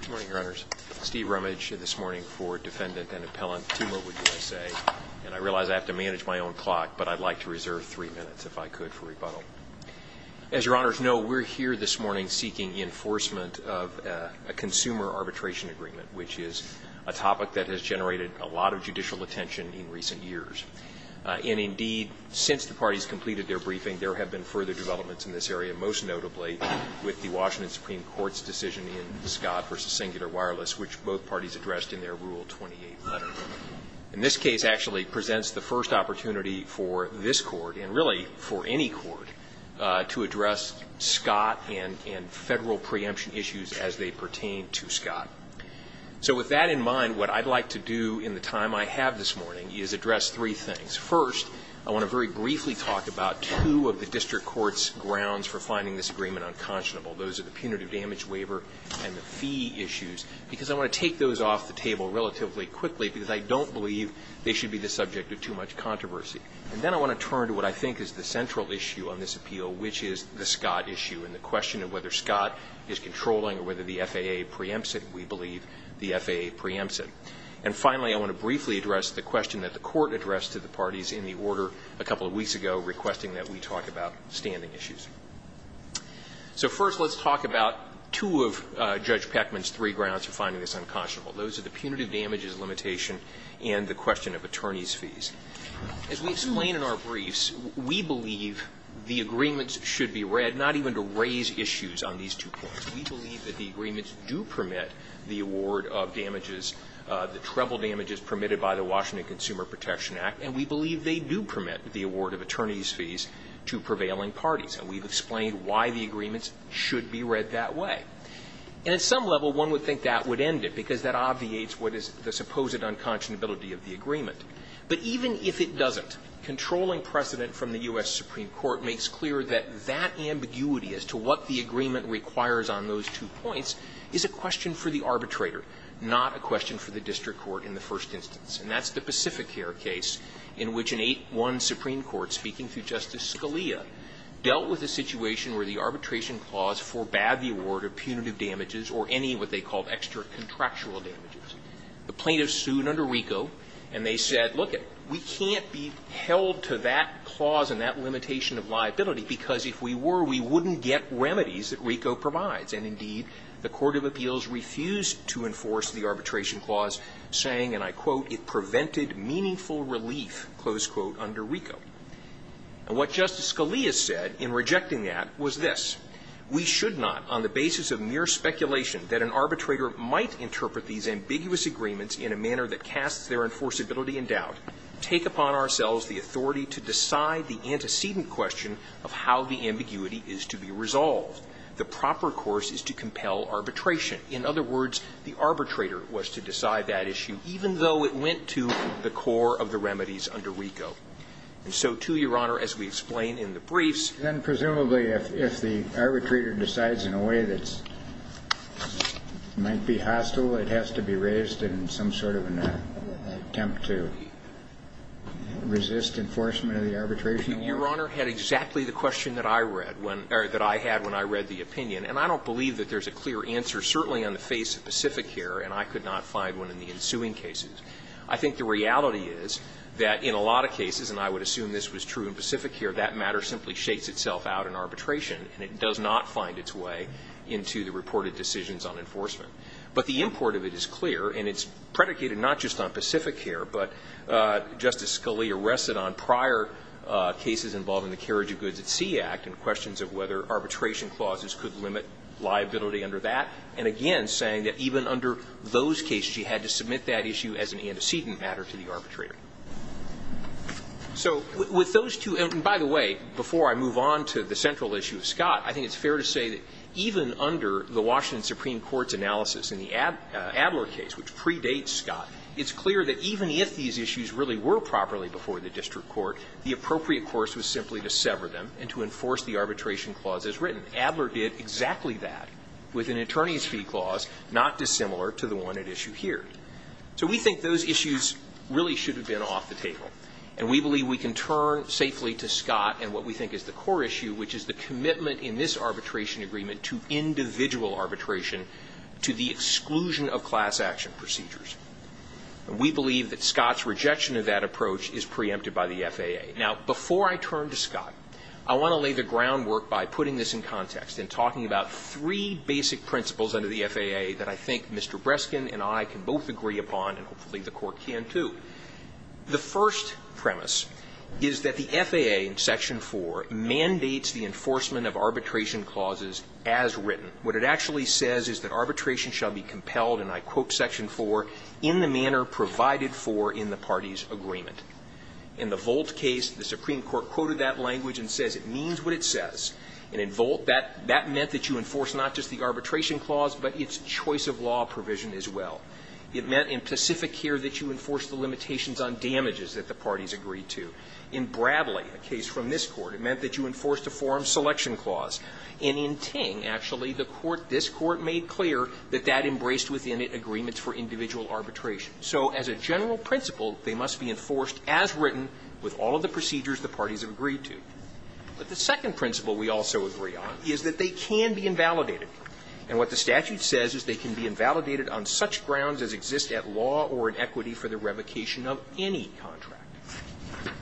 Good morning, Your Honors. Steve Rumage this morning for Defendant and Appellant T-Mobile USA. And I realize I have to manage my own clock, but I'd like to reserve three minutes if I could for rebuttal. As Your Honors know, we're here this morning seeking enforcement of a consumer arbitration agreement, which is a topic that has generated a lot of judicial attention in recent years. And indeed, since the parties completed their briefing, there have been further developments in this area, most notably with the Washington Supreme Court's decision in Scott v. Singular Wireless, which both parties addressed in their Rule 28 letter. And this case actually presents the first opportunity for this Court, and really for any Court, to address Scott and federal preemption issues as they pertain to Scott. So with that in mind, what I'd like to do in the time I have this morning is address three things. First, I want to very briefly talk about two of the District Court's grounds for finding this agreement unconscionable. Those are the punitive damage waiver and the fee issues, because I want to take those off the table relatively quickly because I don't believe they should be the subject of too much controversy. And then I want to turn to what I think is the central issue on this appeal, which is the Scott issue and the question of whether Scott is controlling or whether the FAA preempts it. We believe the FAA preempts it. And finally, I want to briefly address the question that the Court addressed to the parties in the So first, let's talk about two of Judge Peckman's three grounds for finding this unconscionable. Those are the punitive damages limitation and the question of attorneys' fees. As we explain in our briefs, we believe the agreements should be read not even to raise issues on these two points. We believe that the agreements do permit the award of damages, the treble damages permitted by the Washington Consumer Protection Act, and we believe they do permit the award of attorneys' fees to prevailing parties. And we've explained why the agreements should be read that way. And at some level, one would think that would end it because that obviates what is the supposed unconscionability of the agreement. But even if it doesn't, controlling precedent from the U.S. Supreme Court makes clear that that ambiguity as to what the agreement requires on those two points is a question for the arbitrator, not a question for the district court in the first instance. And that's the Pacificare case in which Section 8-1 Supreme Court, speaking through Justice Scalia, dealt with a situation where the arbitration clause forbade the award of punitive damages or any of what they called extra-contractual damages. The plaintiffs sued under RICO, and they said, lookit, we can't be held to that clause and that limitation of liability because if we were, we wouldn't get remedies that RICO provides. And, indeed, the court of appeals refused to enforce the arbitration clause, saying, and I quote, it prevented meaningful relief, close quote, under RICO. And what Justice Scalia said in rejecting that was this. We should not, on the basis of mere speculation that an arbitrator might interpret these ambiguous agreements in a manner that casts their enforceability in doubt, take upon ourselves the authority to decide the antecedent question of how the ambiguity is to be resolved. The proper course is to compel arbitration. In other words, the core of the remedies under RICO. And so, too, Your Honor, as we explain in the briefs. Then, presumably, if the arbitrator decides in a way that's, might be hostile, it has to be raised in some sort of an attempt to resist enforcement of the arbitration? Your Honor had exactly the question that I read when, or that I had when I read the opinion. And I don't believe that there's a clear answer, certainly on the face of I think the reality is that in a lot of cases, and I would assume this was true in Pacific Care, that matter simply shakes itself out in arbitration, and it does not find its way into the reported decisions on enforcement. But the import of it is clear, and it's predicated not just on Pacific Care, but Justice Scalia rested on prior cases involving the Carriage of Goods at Sea Act and questions of whether arbitration clauses could limit liability under that. And again, saying that even under those cases, you had to submit that issue as an antecedent matter to the arbitrator. So, with those two, and by the way, before I move on to the central issue of Scott, I think it's fair to say that even under the Washington Supreme Court's analysis in the Adler case, which predates Scott, it's clear that even if these issues really were properly before the district court, the appropriate course was simply to sever them and to enforce the arbitration clause as written. Adler did exactly that with an attorney's fee clause not dissimilar to the one at issue here. So we think those issues really should have been off the table. And we believe we can turn safely to Scott and what we think is the core issue, which is the commitment in this arbitration agreement to individual arbitration to the exclusion of class action procedures. And we believe that Scott's rejection of that approach is preempted by the FAA. Now, before I turn to Scott, I want to lay the groundwork by putting this in context and talking about three basic principles under the FAA that I think Mr. Breskin and I can both agree upon and hopefully the Court can, too. The first premise is that the FAA in Section 4 mandates the enforcement of arbitration clauses as written. What it actually says is that arbitration shall be compelled, and I quote Section 4, in the manner provided for in the party's agreement. In the Volt case, the Supreme Court quoted that language and says it means what it says. And in Volt, that meant that you enforce not just the arbitration clause, but its choice of law provision as well. It meant in Pacific here that you enforce the limitations on damages that the parties agreed to. In Bradley, a case from this Court, it meant that you enforced a forum selection clause. And in Ting, actually, the Court, this means for individual arbitration. So as a general principle, they must be enforced as written with all of the procedures the parties have agreed to. But the second principle we also agree on is that they can be invalidated. And what the statute says is they can be invalidated on such grounds as exist at law or in equity for the revocation of any contract.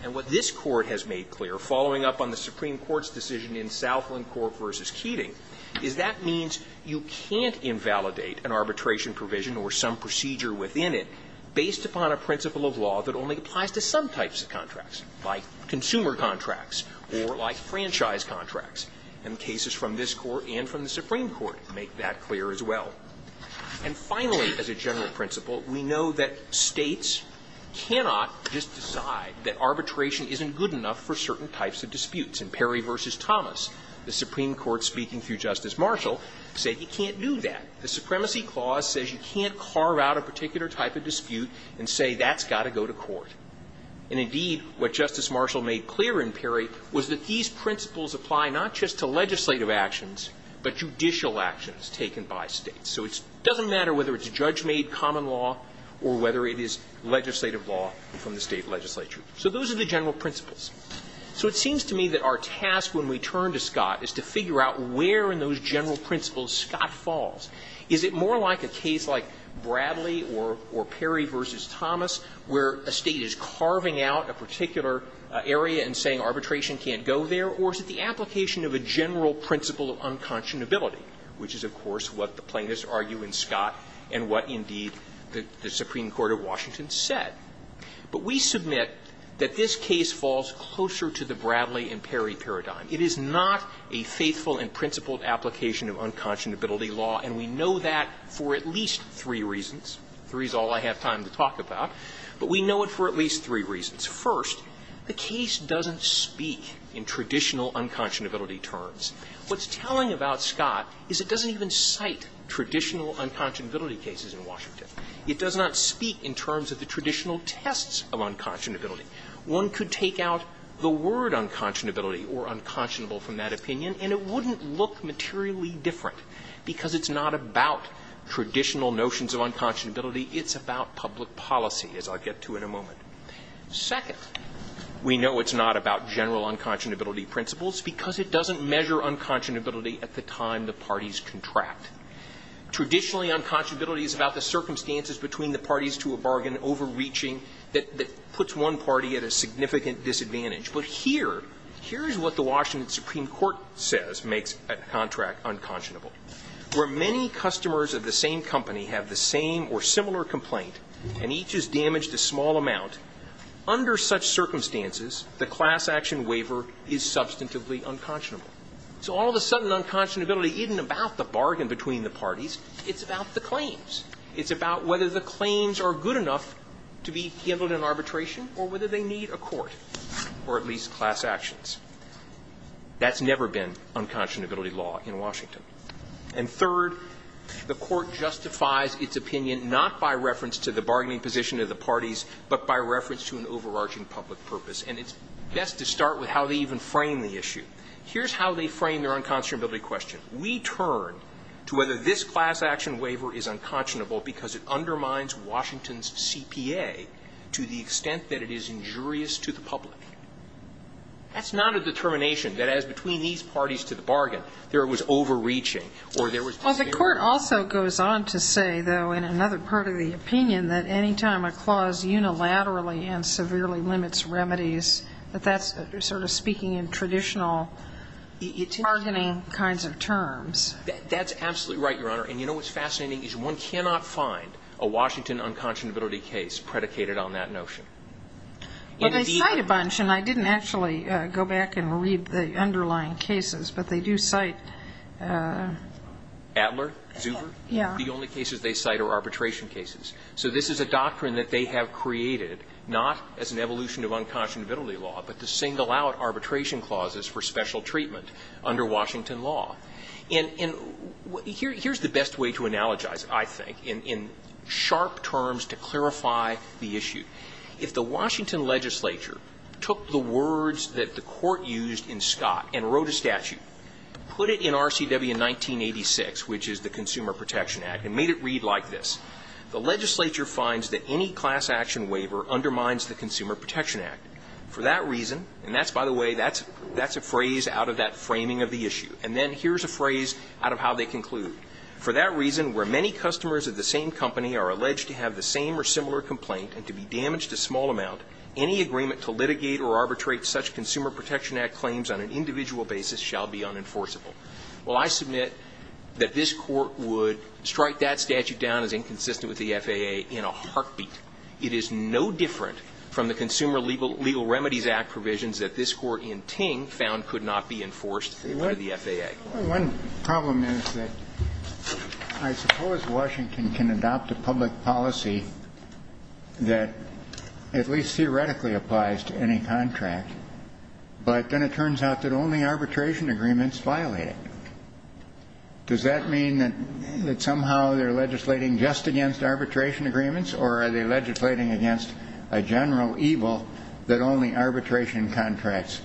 And what this Court has made clear, following up on the Supreme Court's decision in Southland Court v. Keating, is that means you can't invalidate an arbitration provision or some procedure within it based upon a principle of law that only applies to some types of contracts, like consumer contracts or like franchise contracts. And the cases from this Court and from the Supreme Court make that clear as well. And finally, as a general principle, we know that states cannot just decide that arbitration isn't good enough for certain types of disputes. In Perry v. Thomas, the Supreme Court speaking through Justice Marshall said you can't do that. The Supremacy Clause says you can't carve out a particular type of dispute and say that's got to go to court. And indeed, what Justice Marshall made clear in Perry was that these principles apply not just to legislative actions, but judicial actions taken by states. So it doesn't matter whether it's judge-made common law or whether it is legislative law from the state legislature. So those are the general principles. So it seems to me that our task when we turn to Scott is to figure out where in those general principles Scott falls. Is it more like a case like Bradley or Perry v. Thomas, where a state is carving out a particular area and saying arbitration can't go there, or is it the application of a general principle of unconscionability, which is, of course, what the plaintiffs argue in Scott and what, indeed, the Supreme Court of Washington said. But we submit that this case falls closer to the Bradley and Perry case, which is the Bradley and Perry paradigm. It is not a faithful and principled application of unconscionability law, and we know that for at least three reasons. Three is all I have time to talk about. But we know it for at least three reasons. First, the case doesn't speak in traditional unconscionability terms. What's telling about Scott is it doesn't even cite traditional unconscionability cases in Washington. It does not speak in terms of the traditional tests of unconscionability. One could take out the word unconscionability or unconscionable from that opinion, and it wouldn't look materially different because it's not about traditional notions of unconscionability. It's about public policy, as I'll get to in a moment. Second, we know it's not about general unconscionability principles because it doesn't measure unconscionability at the time the parties contract. Traditionally, unconscionability is about the circumstances between the parties to a bargain overreaching that puts one party at a significant disadvantage. But here, here's what the Washington Supreme Court says makes a contract unconscionable. Where many customers of the same company have the same or similar complaint, and each is damaged a small amount, under such circumstances, the class action waiver is substantively unconscionable. So all of a sudden, unconscionability isn't about the bargain between the parties. It's about the claims. It's about whether the claims are good enough to be handled in arbitration or whether they need a court or at least class actions. That's never been unconscionability law in Washington. And third, the court justifies its opinion not by reference to the bargaining position of the parties, but by reference to an overarching public purpose. And it's best to start with how they even frame the issue. Here's how they frame their unconscionability question. We turn to whether this class action waiver is unconscionable or whether it undermines Washington's CPA to the extent that it is injurious to the public. That's not a determination that as between these parties to the bargain, there was overreaching or there was disagreement. Well, the court also goes on to say, though, in another part of the opinion, that any time a clause unilaterally and severely limits remedies, that that's sort of speaking in traditional bargaining kinds of terms. That's absolutely right, Your Honor. And you know what's fascinating is one cannot find a Washington unconscionability case predicated on that notion. Well, they cite a bunch, and I didn't actually go back and read the underlying cases, but they do cite – Adler, Zuber, the only cases they cite are arbitration cases. So this is a doctrine that they have created not as an evolution of unconscionability law, but to single out arbitration clauses for special treatment under Washington law. And here's the best way to analogize, I think, in sharp terms to clarify the issue. If the Washington legislature took the words that the court used in Scott and wrote a statute, put it in RCW 1986, which is the Consumer Protection Act, and made it read like this, the legislature finds that any class action waiver undermines the Consumer Protection Act. For that reason, and that's, by the way, that's a phrase out of that framing of the issue, and then here's a phrase out of how they conclude. For that reason, where many customers of the same company are alleged to have the same or similar complaint and to be damaged a small amount, any agreement to litigate or arbitrate such Consumer Protection Act claims on an individual basis shall be unenforceable. Well, I submit that this Court would strike that statute down as inconsistent with the FAA in a heartbeat. It is no different from the Consumer Legal Remedies Act provisions that this Court in Ting found could not be enforced by the FAA. One problem is that I suppose Washington can adopt a public policy that at least theoretically applies to any contract, but then it turns out that only arbitration agreements violate it. Does that mean that somehow they're legislating just against arbitration agreements, or are they legislating against a general evil that only arbitration contracts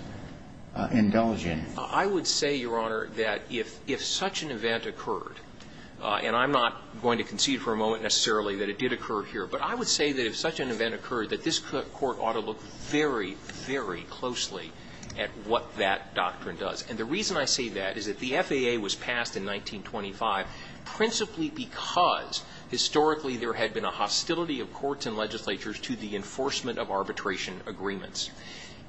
indulge in? I would say, Your Honor, that if such an event occurred, and I'm not going to concede for a moment necessarily that it did occur here, but I would say that if such an event occurred that this Court ought to look very, very closely at what that doctrine does. And the reason I say that is that the FAA was passed in 1925 principally because historically there had been a hostility of courts and legislatures to the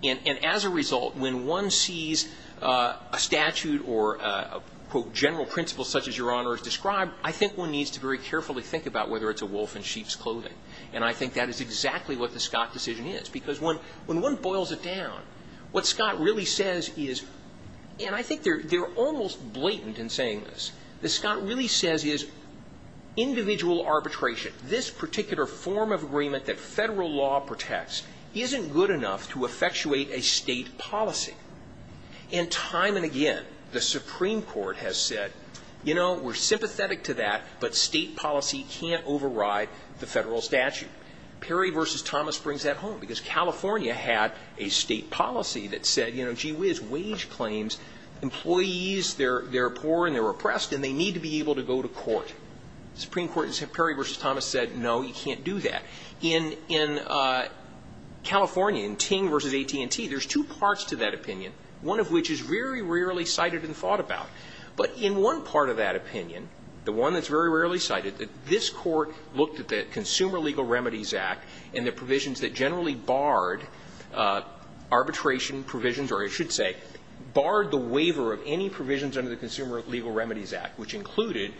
And as a result, when one sees a statute or a, quote, general principle such as Your Honor has described, I think one needs to very carefully think about whether it's a wolf in sheep's clothing. And I think that is exactly what the Scott decision is, because when one boils it down, what Scott really says is, and I think they're almost blatant in saying this, what Scott really says is individual arbitration, this particular form of agreement that federal law protects, isn't good enough to effectuate a state policy. And time and again, the Supreme Court has said, you know, we're sympathetic to that, but state policy can't override the federal statute. Perry v. Thomas brings that home, because California had a state policy that said, you know, gee whiz, wage claims, employees, they're poor and they're oppressed and they need to be able to go to court. Supreme Court, Perry v. Thomas said, no, you can't do that. In California, in Ting v. AT&T, there's two parts to that opinion, one of which is very rarely cited and thought about. But in one part of that opinion, the one that's very rarely cited, that this Court looked at the Consumer Legal Remedies Act and the provisions that generally barred arbitration provisions, or I should say, barred the waiver of any provisions under the Consumer Legal Remedies Act, which included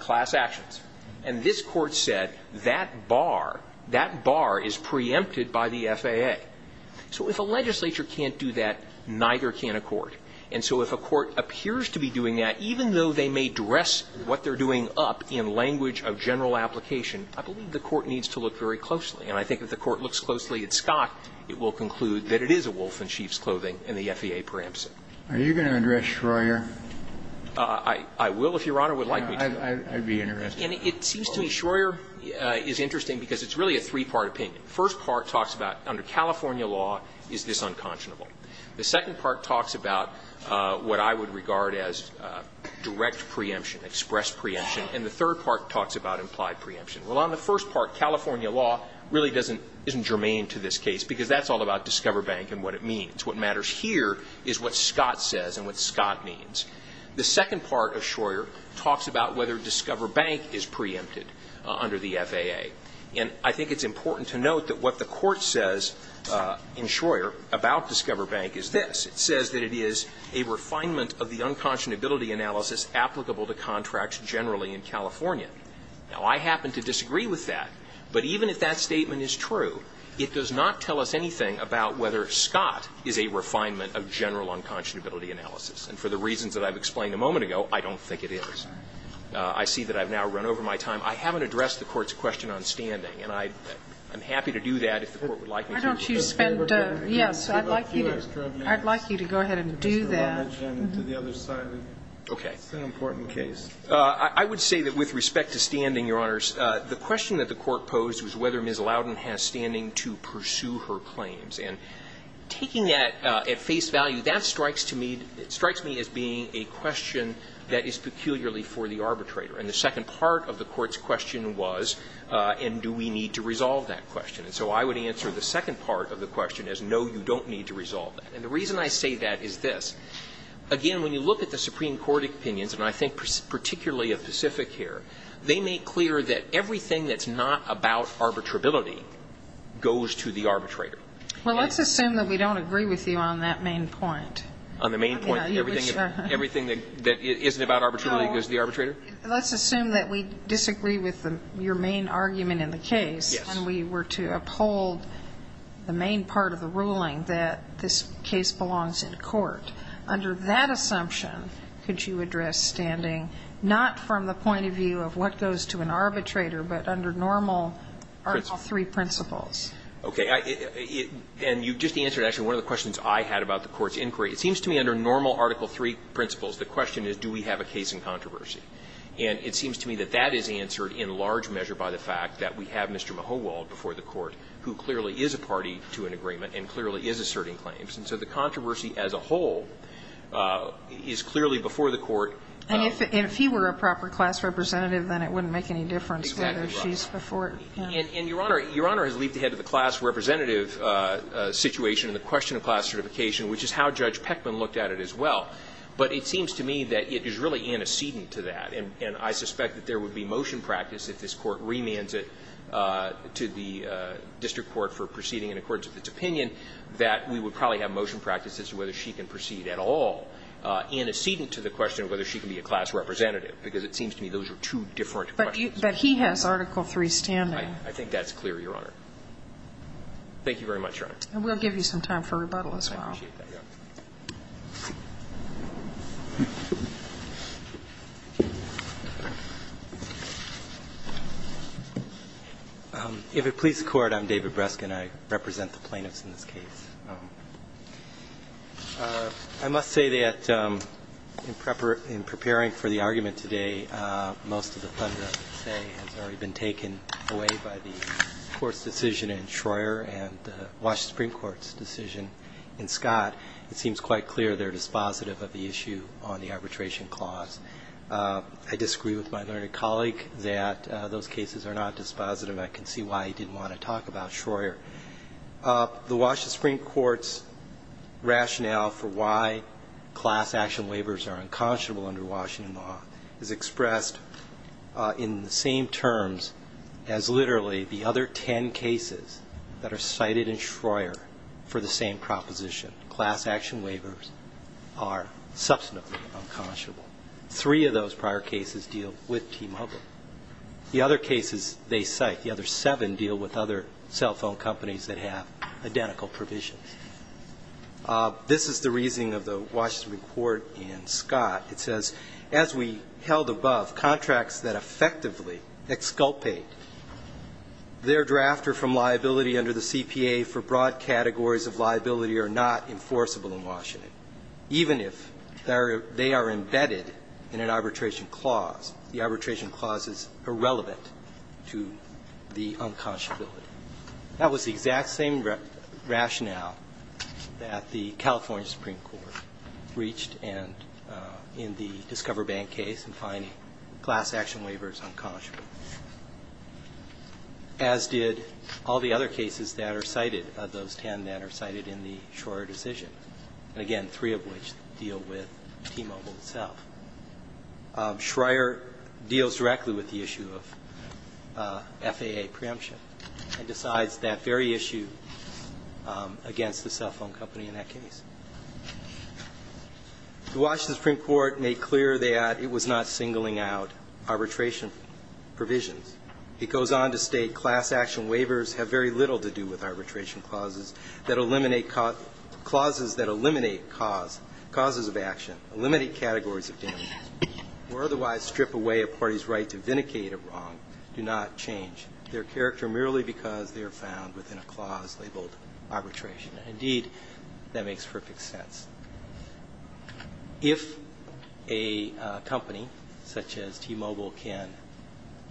class actions. And this Court said, you know, we can't do that. That bar, that bar is preempted by the FAA. So if a legislature can't do that, neither can a court. And so if a court appears to be doing that, even though they may dress what they're doing up in language of general application, I believe the Court needs to look very closely. And I think if the Court looks closely at Scott, it will conclude that it is a wolf in sheep's clothing and the FAA preempts it. Are you going to address Schroer? I will, if Your Honor would like me to. I'd be interested. And it seems to me Schroer is interesting because it's really a three-part opinion. The first part talks about, under California law, is this unconscionable? The second part talks about what I would regard as direct preemption, express preemption. And the third part talks about implied preemption. Well, on the first part, California law really doesn't – isn't germane to this case, because that's all about Discover Bank and what it means. What matters here is what Scott says and what Scott means. The second part of Schroer talks about whether Discover Bank is preempted under the FAA. And I think it's important to note that what the Court says in Schroer about Discover Bank is this. It says that it is a refinement of the unconscionability analysis applicable to contracts generally in California. Now, I happen to disagree with that. But even if that statement is true, it does not tell us anything about whether Scott is a refinement of general unconscionability analysis. And for the reasons that I've explained a moment ago, I don't think it is. I see that I've now run over my time. I haven't addressed the Court's question on standing, and I'm happy to do that if the Court would like me to. Why don't you spend – yes, I'd like you to go ahead and do that. Mr. Lubbidge and to the other side of it. Okay. It's an important case. The question that was proposed was whether Ms. Loudon has standing to pursue her claims. And taking that at face value, that strikes to me – it strikes me as being a question that is peculiarly for the arbitrator. And the second part of the Court's question was, and do we need to resolve that question? And so I would answer the second part of the question as, no, you don't need to resolve it. And the reason I say that is this. Again, when you look at the Supreme Court opinions, and I think particularly of Pacific here, they make clear that everything that's not about arbitrability goes to the arbitrator. Well, let's assume that we don't agree with you on that main point. On the main point? Everything that isn't about arbitrability goes to the arbitrator? No. Let's assume that we disagree with your main argument in the case. Yes. And we were to uphold the main part of the ruling that this case belongs in court. Under that assumption, could you address standing not from the point of view of what goes to an arbitrator, but under normal Article III principles? Okay. And you just answered, actually, one of the questions I had about the Court's inquiry. It seems to me under normal Article III principles, the question is, do we have a case in controversy? And it seems to me that that is answered in large measure by the fact that we have Mr. Mahowald before the Court, who clearly is a party to an agreement and clearly is asserting claims. And so the controversy as a whole is clearly before the Court. And if he were a proper class representative, then it wouldn't make any difference whether she's before the Court. Exactly right. And, Your Honor, Your Honor has leaped ahead to the class representative situation and the question of class certification, which is how Judge Pechman looked at it as well. But it seems to me that it is really antecedent to that. And I suspect that there would be motion practice, if this Court remands it to the district court for proceeding in accordance with its opinion, that we would probably have motion practice as to whether she can proceed at all antecedent to the question of whether she can be a class representative, because it seems to me those are two different questions. But he has Article III standing. I think that's clear, Your Honor. Thank you very much, Your Honor. And we'll give you some time for rebuttal as well. I appreciate that, Your Honor. If it please the Court, I'm David Breskin. I represent the plaintiffs in this case. I must say that in preparing for the argument today, most of the thunder, I would say, has already been taken away by the Court's decision in Schroer and the Washington Supreme Court's decision in Scott. It seems quite clear they're dispositive of the issue on the arbitration clause. I disagree with my learned colleague that those cases are not dispositive. I can see why he didn't want to talk about Schroer. The Washington Supreme Court's rationale for why class action waivers are unconscionable under Washington law is expressed in the same terms as literally the other ten cases that are cited in Schroer for the same proposition. Class action waivers are substantively unconscionable. Three of those prior cases deal with T-Mobile. The other cases they cite, the other seven deal with other cell phone companies that have identical provisions. This is the reasoning of the Washington Court in Scott. It says, as we held above, contracts that effectively exculpate their drafter from liability under the CPA for broad categories of liability are not enforceable in Washington, even if they are embedded in an arbitration clause. The arbitration clause is irrelevant to the unconscionability. That was the exact same rationale that the California Supreme Court reached in the Discover Bank case in finding class action waivers unconscionable, as did all the other cases that are cited, of those ten that are cited in the Schroer decision, and again, three of which deal with T-Mobile itself. Schroer deals directly with the issue of FAA preemption and decides that very issue against the cell phone company in that case. The Washington Supreme Court made clear that it was not singling out arbitration provisions. It goes on to state class action waivers have very little to do with causes of action. Limited categories of damages or otherwise strip away a party's right to vindicate a wrong do not change their character merely because they are found within a clause labeled arbitration. Indeed, that makes perfect sense. If a company such as T-Mobile can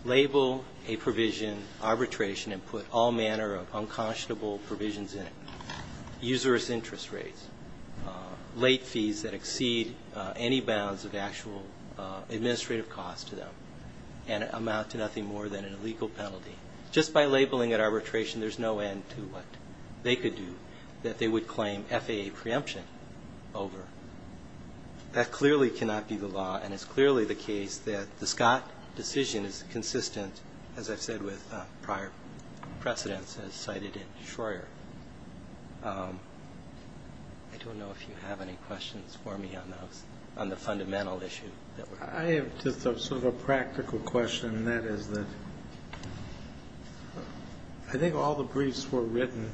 label a provision arbitration and put all manner of unconscionable provisions in it, usurous interest rates, late fees that exceed any bounds of actual administrative costs to them, and amount to nothing more than an illegal penalty, just by labeling it arbitration, there's no end to what they could do that they would claim FAA preemption over. That clearly cannot be the law, and it's clearly the case that the Scott decision is consistent, as I've said with prior precedents as cited in Schroer. I don't know if you have any questions for me on those, on the fundamental issue. I have just sort of a practical question, and that is that I think all the briefs were written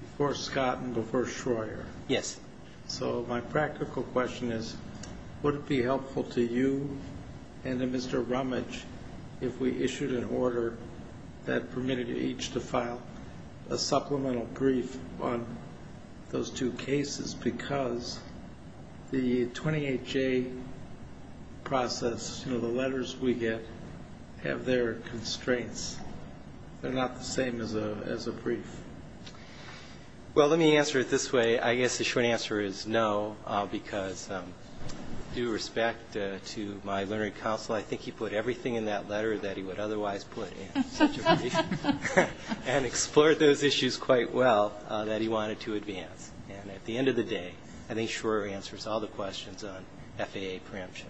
before Scott and before Schroer. Yes. So my practical question is, would it be helpful to you and to Mr. Rumage if we issued an order that permitted each to file a supplemental brief on those two cases, because the 28-J process, you know, the letters we get, have their constraints. They're not the same as a brief. Well, let me answer it this way. I guess the short answer is no, because due respect to my learning counsel, I think he put everything in that letter that he would otherwise put in such a brief and explored those issues quite well that he wanted to advance. And at the end of the day, I think Schroer answers all the questions on FAA preemption.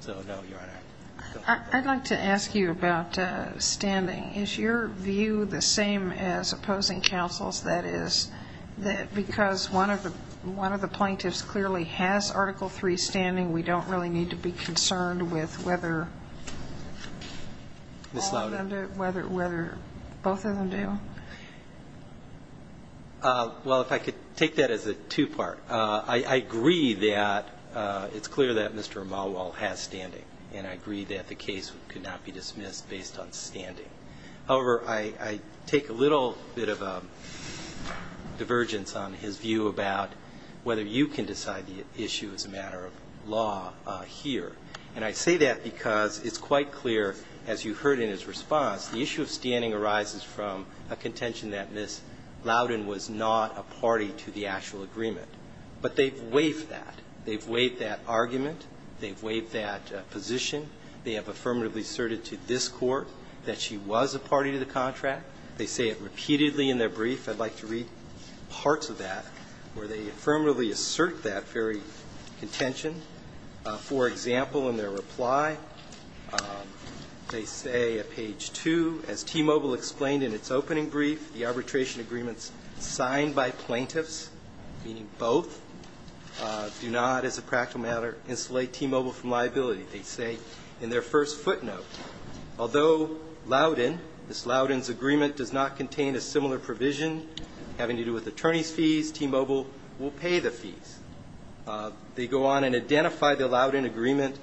So, no, Your Honor. I'd like to ask you about standing. Is your view the same as opposing counsel's? That is, because one of the plaintiffs clearly has Article III standing, we don't really need to be concerned with whether all of them do, whether both of them do? Well, if I could take that as a two-part. I agree that it's clear that Mr. Amalwal has standing, and I agree that the case could not be dismissed based on standing. However, I take a little bit of a divergence on his view about whether you can decide the issue as a matter of law here. And I say that because it's quite clear, as you heard in his response, the issue of standing arises from a contention that Ms. Loudon was not a party to the actual agreement. But they've waived that. They've waived that argument. They've waived that position. They have affirmatively asserted to this Court that she was a party to the contract. They say it repeatedly in their brief. I'd like to read parts of that where they affirmatively assert that very contention. For example, in their reply, they say at page 2, as T-Mobile explained in its opening brief, the arbitration agreements signed by plaintiffs, meaning both, do not, as a practical matter, insulate T-Mobile from liability, they say in their first footnote. Although Loudon, Ms. Loudon's agreement does not contain a similar provision having to do with attorney's fees, T-Mobile will pay the fees. They go on and identify the Loudon agreement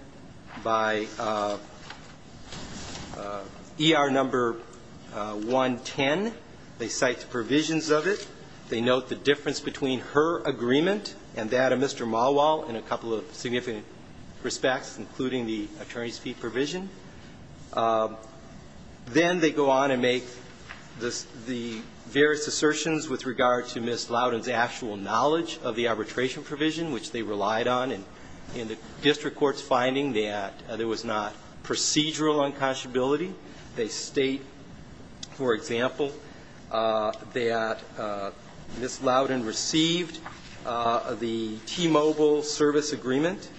by ER number 110. They cite the provisions of it. They note the difference between her agreement and that of Mr. Malwall in a couple of significant respects, including the attorney's fee provision. Then they go on and make the various assertions with regard to Ms. Loudon's actual knowledge of the arbitration provision, which they relied on in the district court's finding that there was not procedural unconscionability. They state, for example, that Ms. Loudon received the T-Mobile service agreement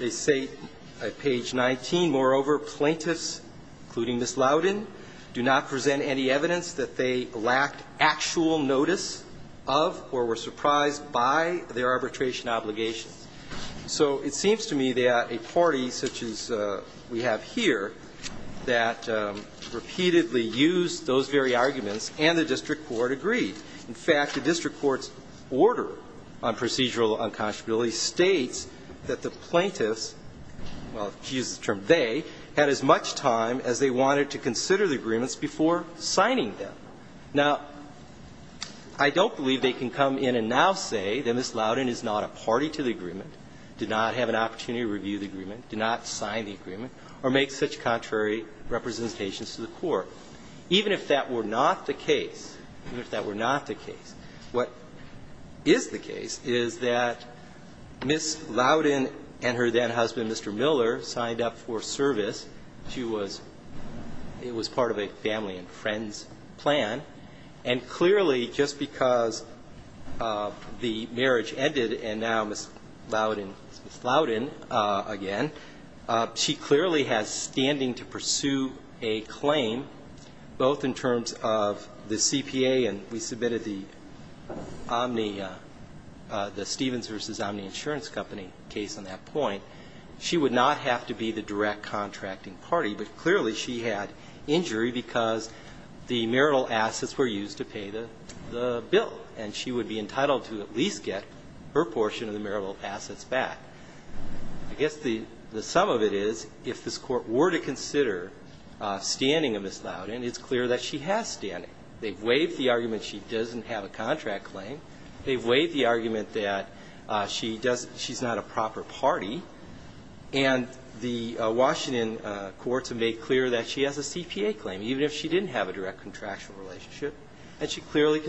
at page 19. Moreover, plaintiffs, including Ms. Loudon, do not present any evidence that they lacked actual notice of or were surprised by their arbitration obligations. So it seems to me that a party such as we have here that repeatedly used those very arguments and the district court agreed. In fact, the district court's order on procedural unconscionability states that the plaintiffs, well, to use the term they, had as much time as they wanted to consider the agreements before signing them. Now, I don't believe they can come in and now say that Ms. Loudon is not a party to the agreement, did not have an opportunity to review the agreement, did not sign the agreement, or make such contrary representations to the court, even if that were not the case, even if that were not the case. What is the case is that Ms. Loudon and her then-husband, Mr. Miller, signed up for service. She was part of a family and friends plan. And clearly, just because the marriage ended and now Ms. Loudon is Ms. Loudon again, she clearly has standing to pursue a claim, both in terms of the CPA and we have the Stevens v. Omni Insurance Company case on that point. She would not have to be the direct contracting party, but clearly she had injury because the marital assets were used to pay the bill. And she would be entitled to at least get her portion of the marital assets back. I guess the sum of it is, if this court were to consider standing of Ms. Loudon, it's clear that she has standing. They've waived the argument she doesn't have a contract claim. They've waived the argument that she's not a proper party. And the Washington courts have made clear that she has a CPA claim, even if she didn't have a direct contractual relationship. And she clearly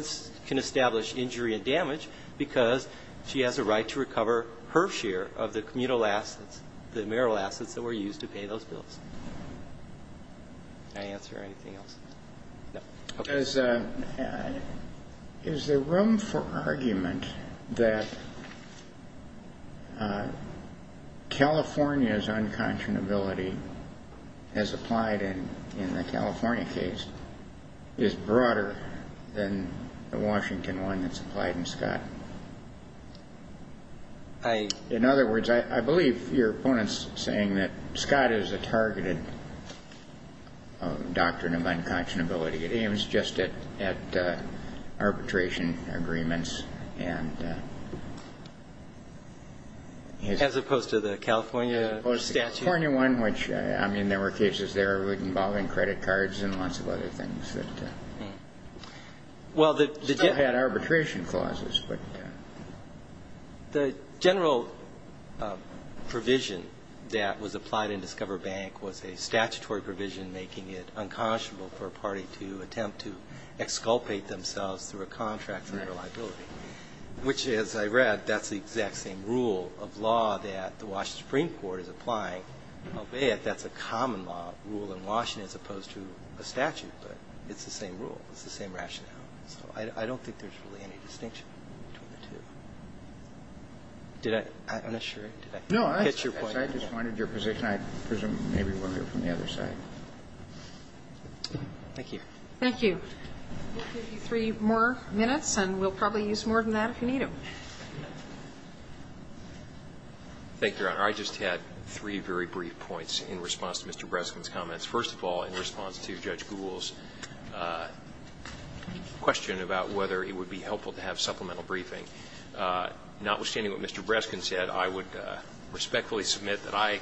can establish injury and damage because she has a right to recover her share of the communal assets, the marital assets that were used to pay those bills. Did I answer anything else? No. Is there room for argument that California's unconscionability as applied in the California case is broader than the Washington one that's applied in Scott? In other words, I believe your opponent's saying that Scott is a targeted doctrine of unconscionability. It aims just at arbitration agreements. As opposed to the California statute? As opposed to the California one, which, I mean, there were cases there involving credit cards and lots of other things that still had arbitration clauses. The general provision that was applied in Discover Bank was a statutory provision making it unconscionable for a party to attempt to exculpate themselves through a contract for their liability. Which, as I read, that's the exact same rule of law that the Washington Supreme Court is applying, albeit that's a common law rule in Washington as opposed to a statute. But it's the same rule. It's the same rationale. So I don't think there's really any distinction between the two. Did I unassure you? Did I hit your point? I just wanted your position. I presume maybe we'll hear from the other side. Thank you. Thank you. We'll give you three more minutes, and we'll probably use more than that if you need them. Thank you, Your Honor. I just had three very brief points in response to Mr. Breskin's comments. First of all, in response to Judge Gould's question about whether it would be helpful to have supplemental briefing. Notwithstanding what Mr. Breskin said, I would respectfully submit that I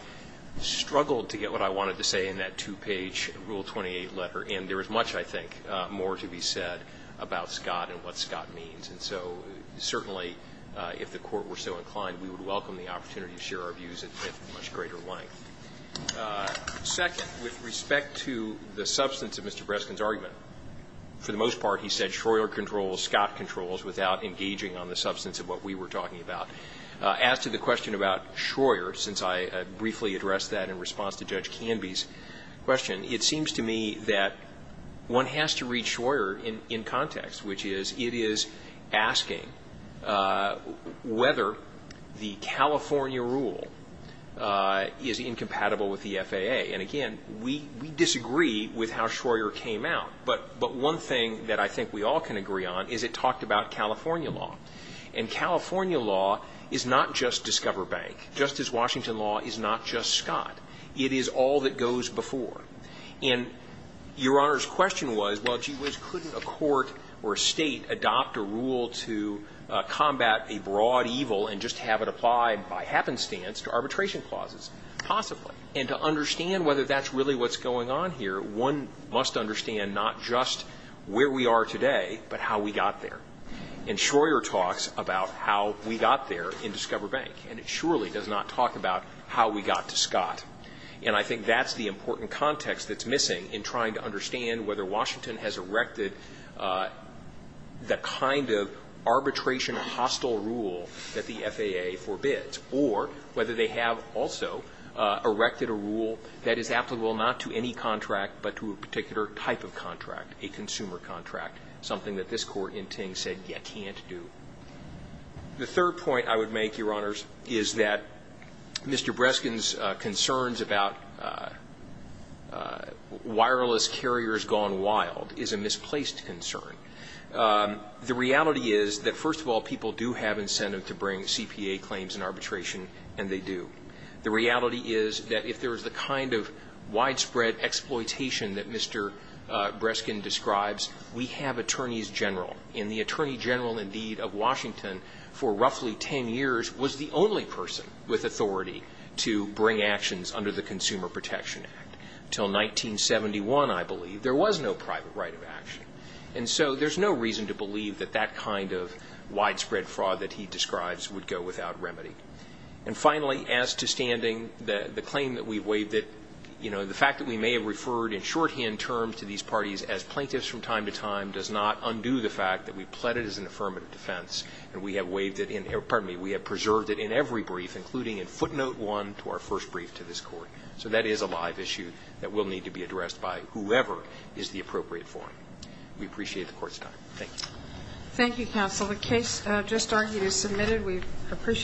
struggled to get what I wanted to say in that two-page Rule 28 letter. And there is much, I think, more to be said about Scott and what Scott means. And so certainly, if the Court were so inclined, we would welcome the opportunity to share our views at much greater length. Second, with respect to the substance of Mr. Breskin's argument, for the most part, he said, Schroer controls, Scott controls, without engaging on the substance of what we were talking about. As to the question about Schroer, since I briefly addressed that in response to Judge Canby's question, it seems to me that one has to read Schroer in context, which is, it is asking whether the California rule is incompatible with the FAA. And again, we disagree with how Schroer came out. But one thing that I think we all can agree on is it talked about California law. And California law is not just Discover Bank, just as Washington law is not just Scott. It is all that goes before. And Your Honor's question was, well, gee whiz, couldn't a court or a state adopt a rule to combat a broad evil and just have it apply by happenstance to arbitration clauses? Possibly. And to understand whether that's really what's going on here, one must understand not just where we are today, but how we got there. And Schroer talks about how we got there in Discover Bank. And it surely does not talk about how we got to Scott. And I think that's the important context that's missing in trying to understand whether Washington has erected the kind of arbitration hostile rule that the FAA forbids. Or whether they have also erected a rule that is applicable not to any contract, but to a particular type of contract, a consumer contract, something that this court in Ting said you can't do. The third point I would make, Your Honors, is that Mr. Breskin's concerns about wireless carriers gone wild is a misplaced concern. The reality is that, first of all, people do have incentive to bring CPA claims and arbitration, and they do. The reality is that if there is the kind of widespread exploitation that Mr. Breskin describes, we have attorneys general. And the Attorney General, indeed, of Washington for roughly ten years was the only person with authority to bring actions under the Consumer Protection Act. And so there's no reason to believe that that kind of widespread fraud that he describes would go without remedy. And finally, as to standing, the claim that we've waived it, you know, the fact that we may have referred in shorthand terms to these parties as plaintiffs from time to time does not undo the fact that we've pled it as an affirmative defense, and we have preserved it in every brief, including in footnote one to our first brief to this court. So that is a live issue that will need to be addressed by whoever is the appropriate forum. We appreciate the court's time. Thank you. Thank you, counsel. The case just argued is submitted. We appreciate it.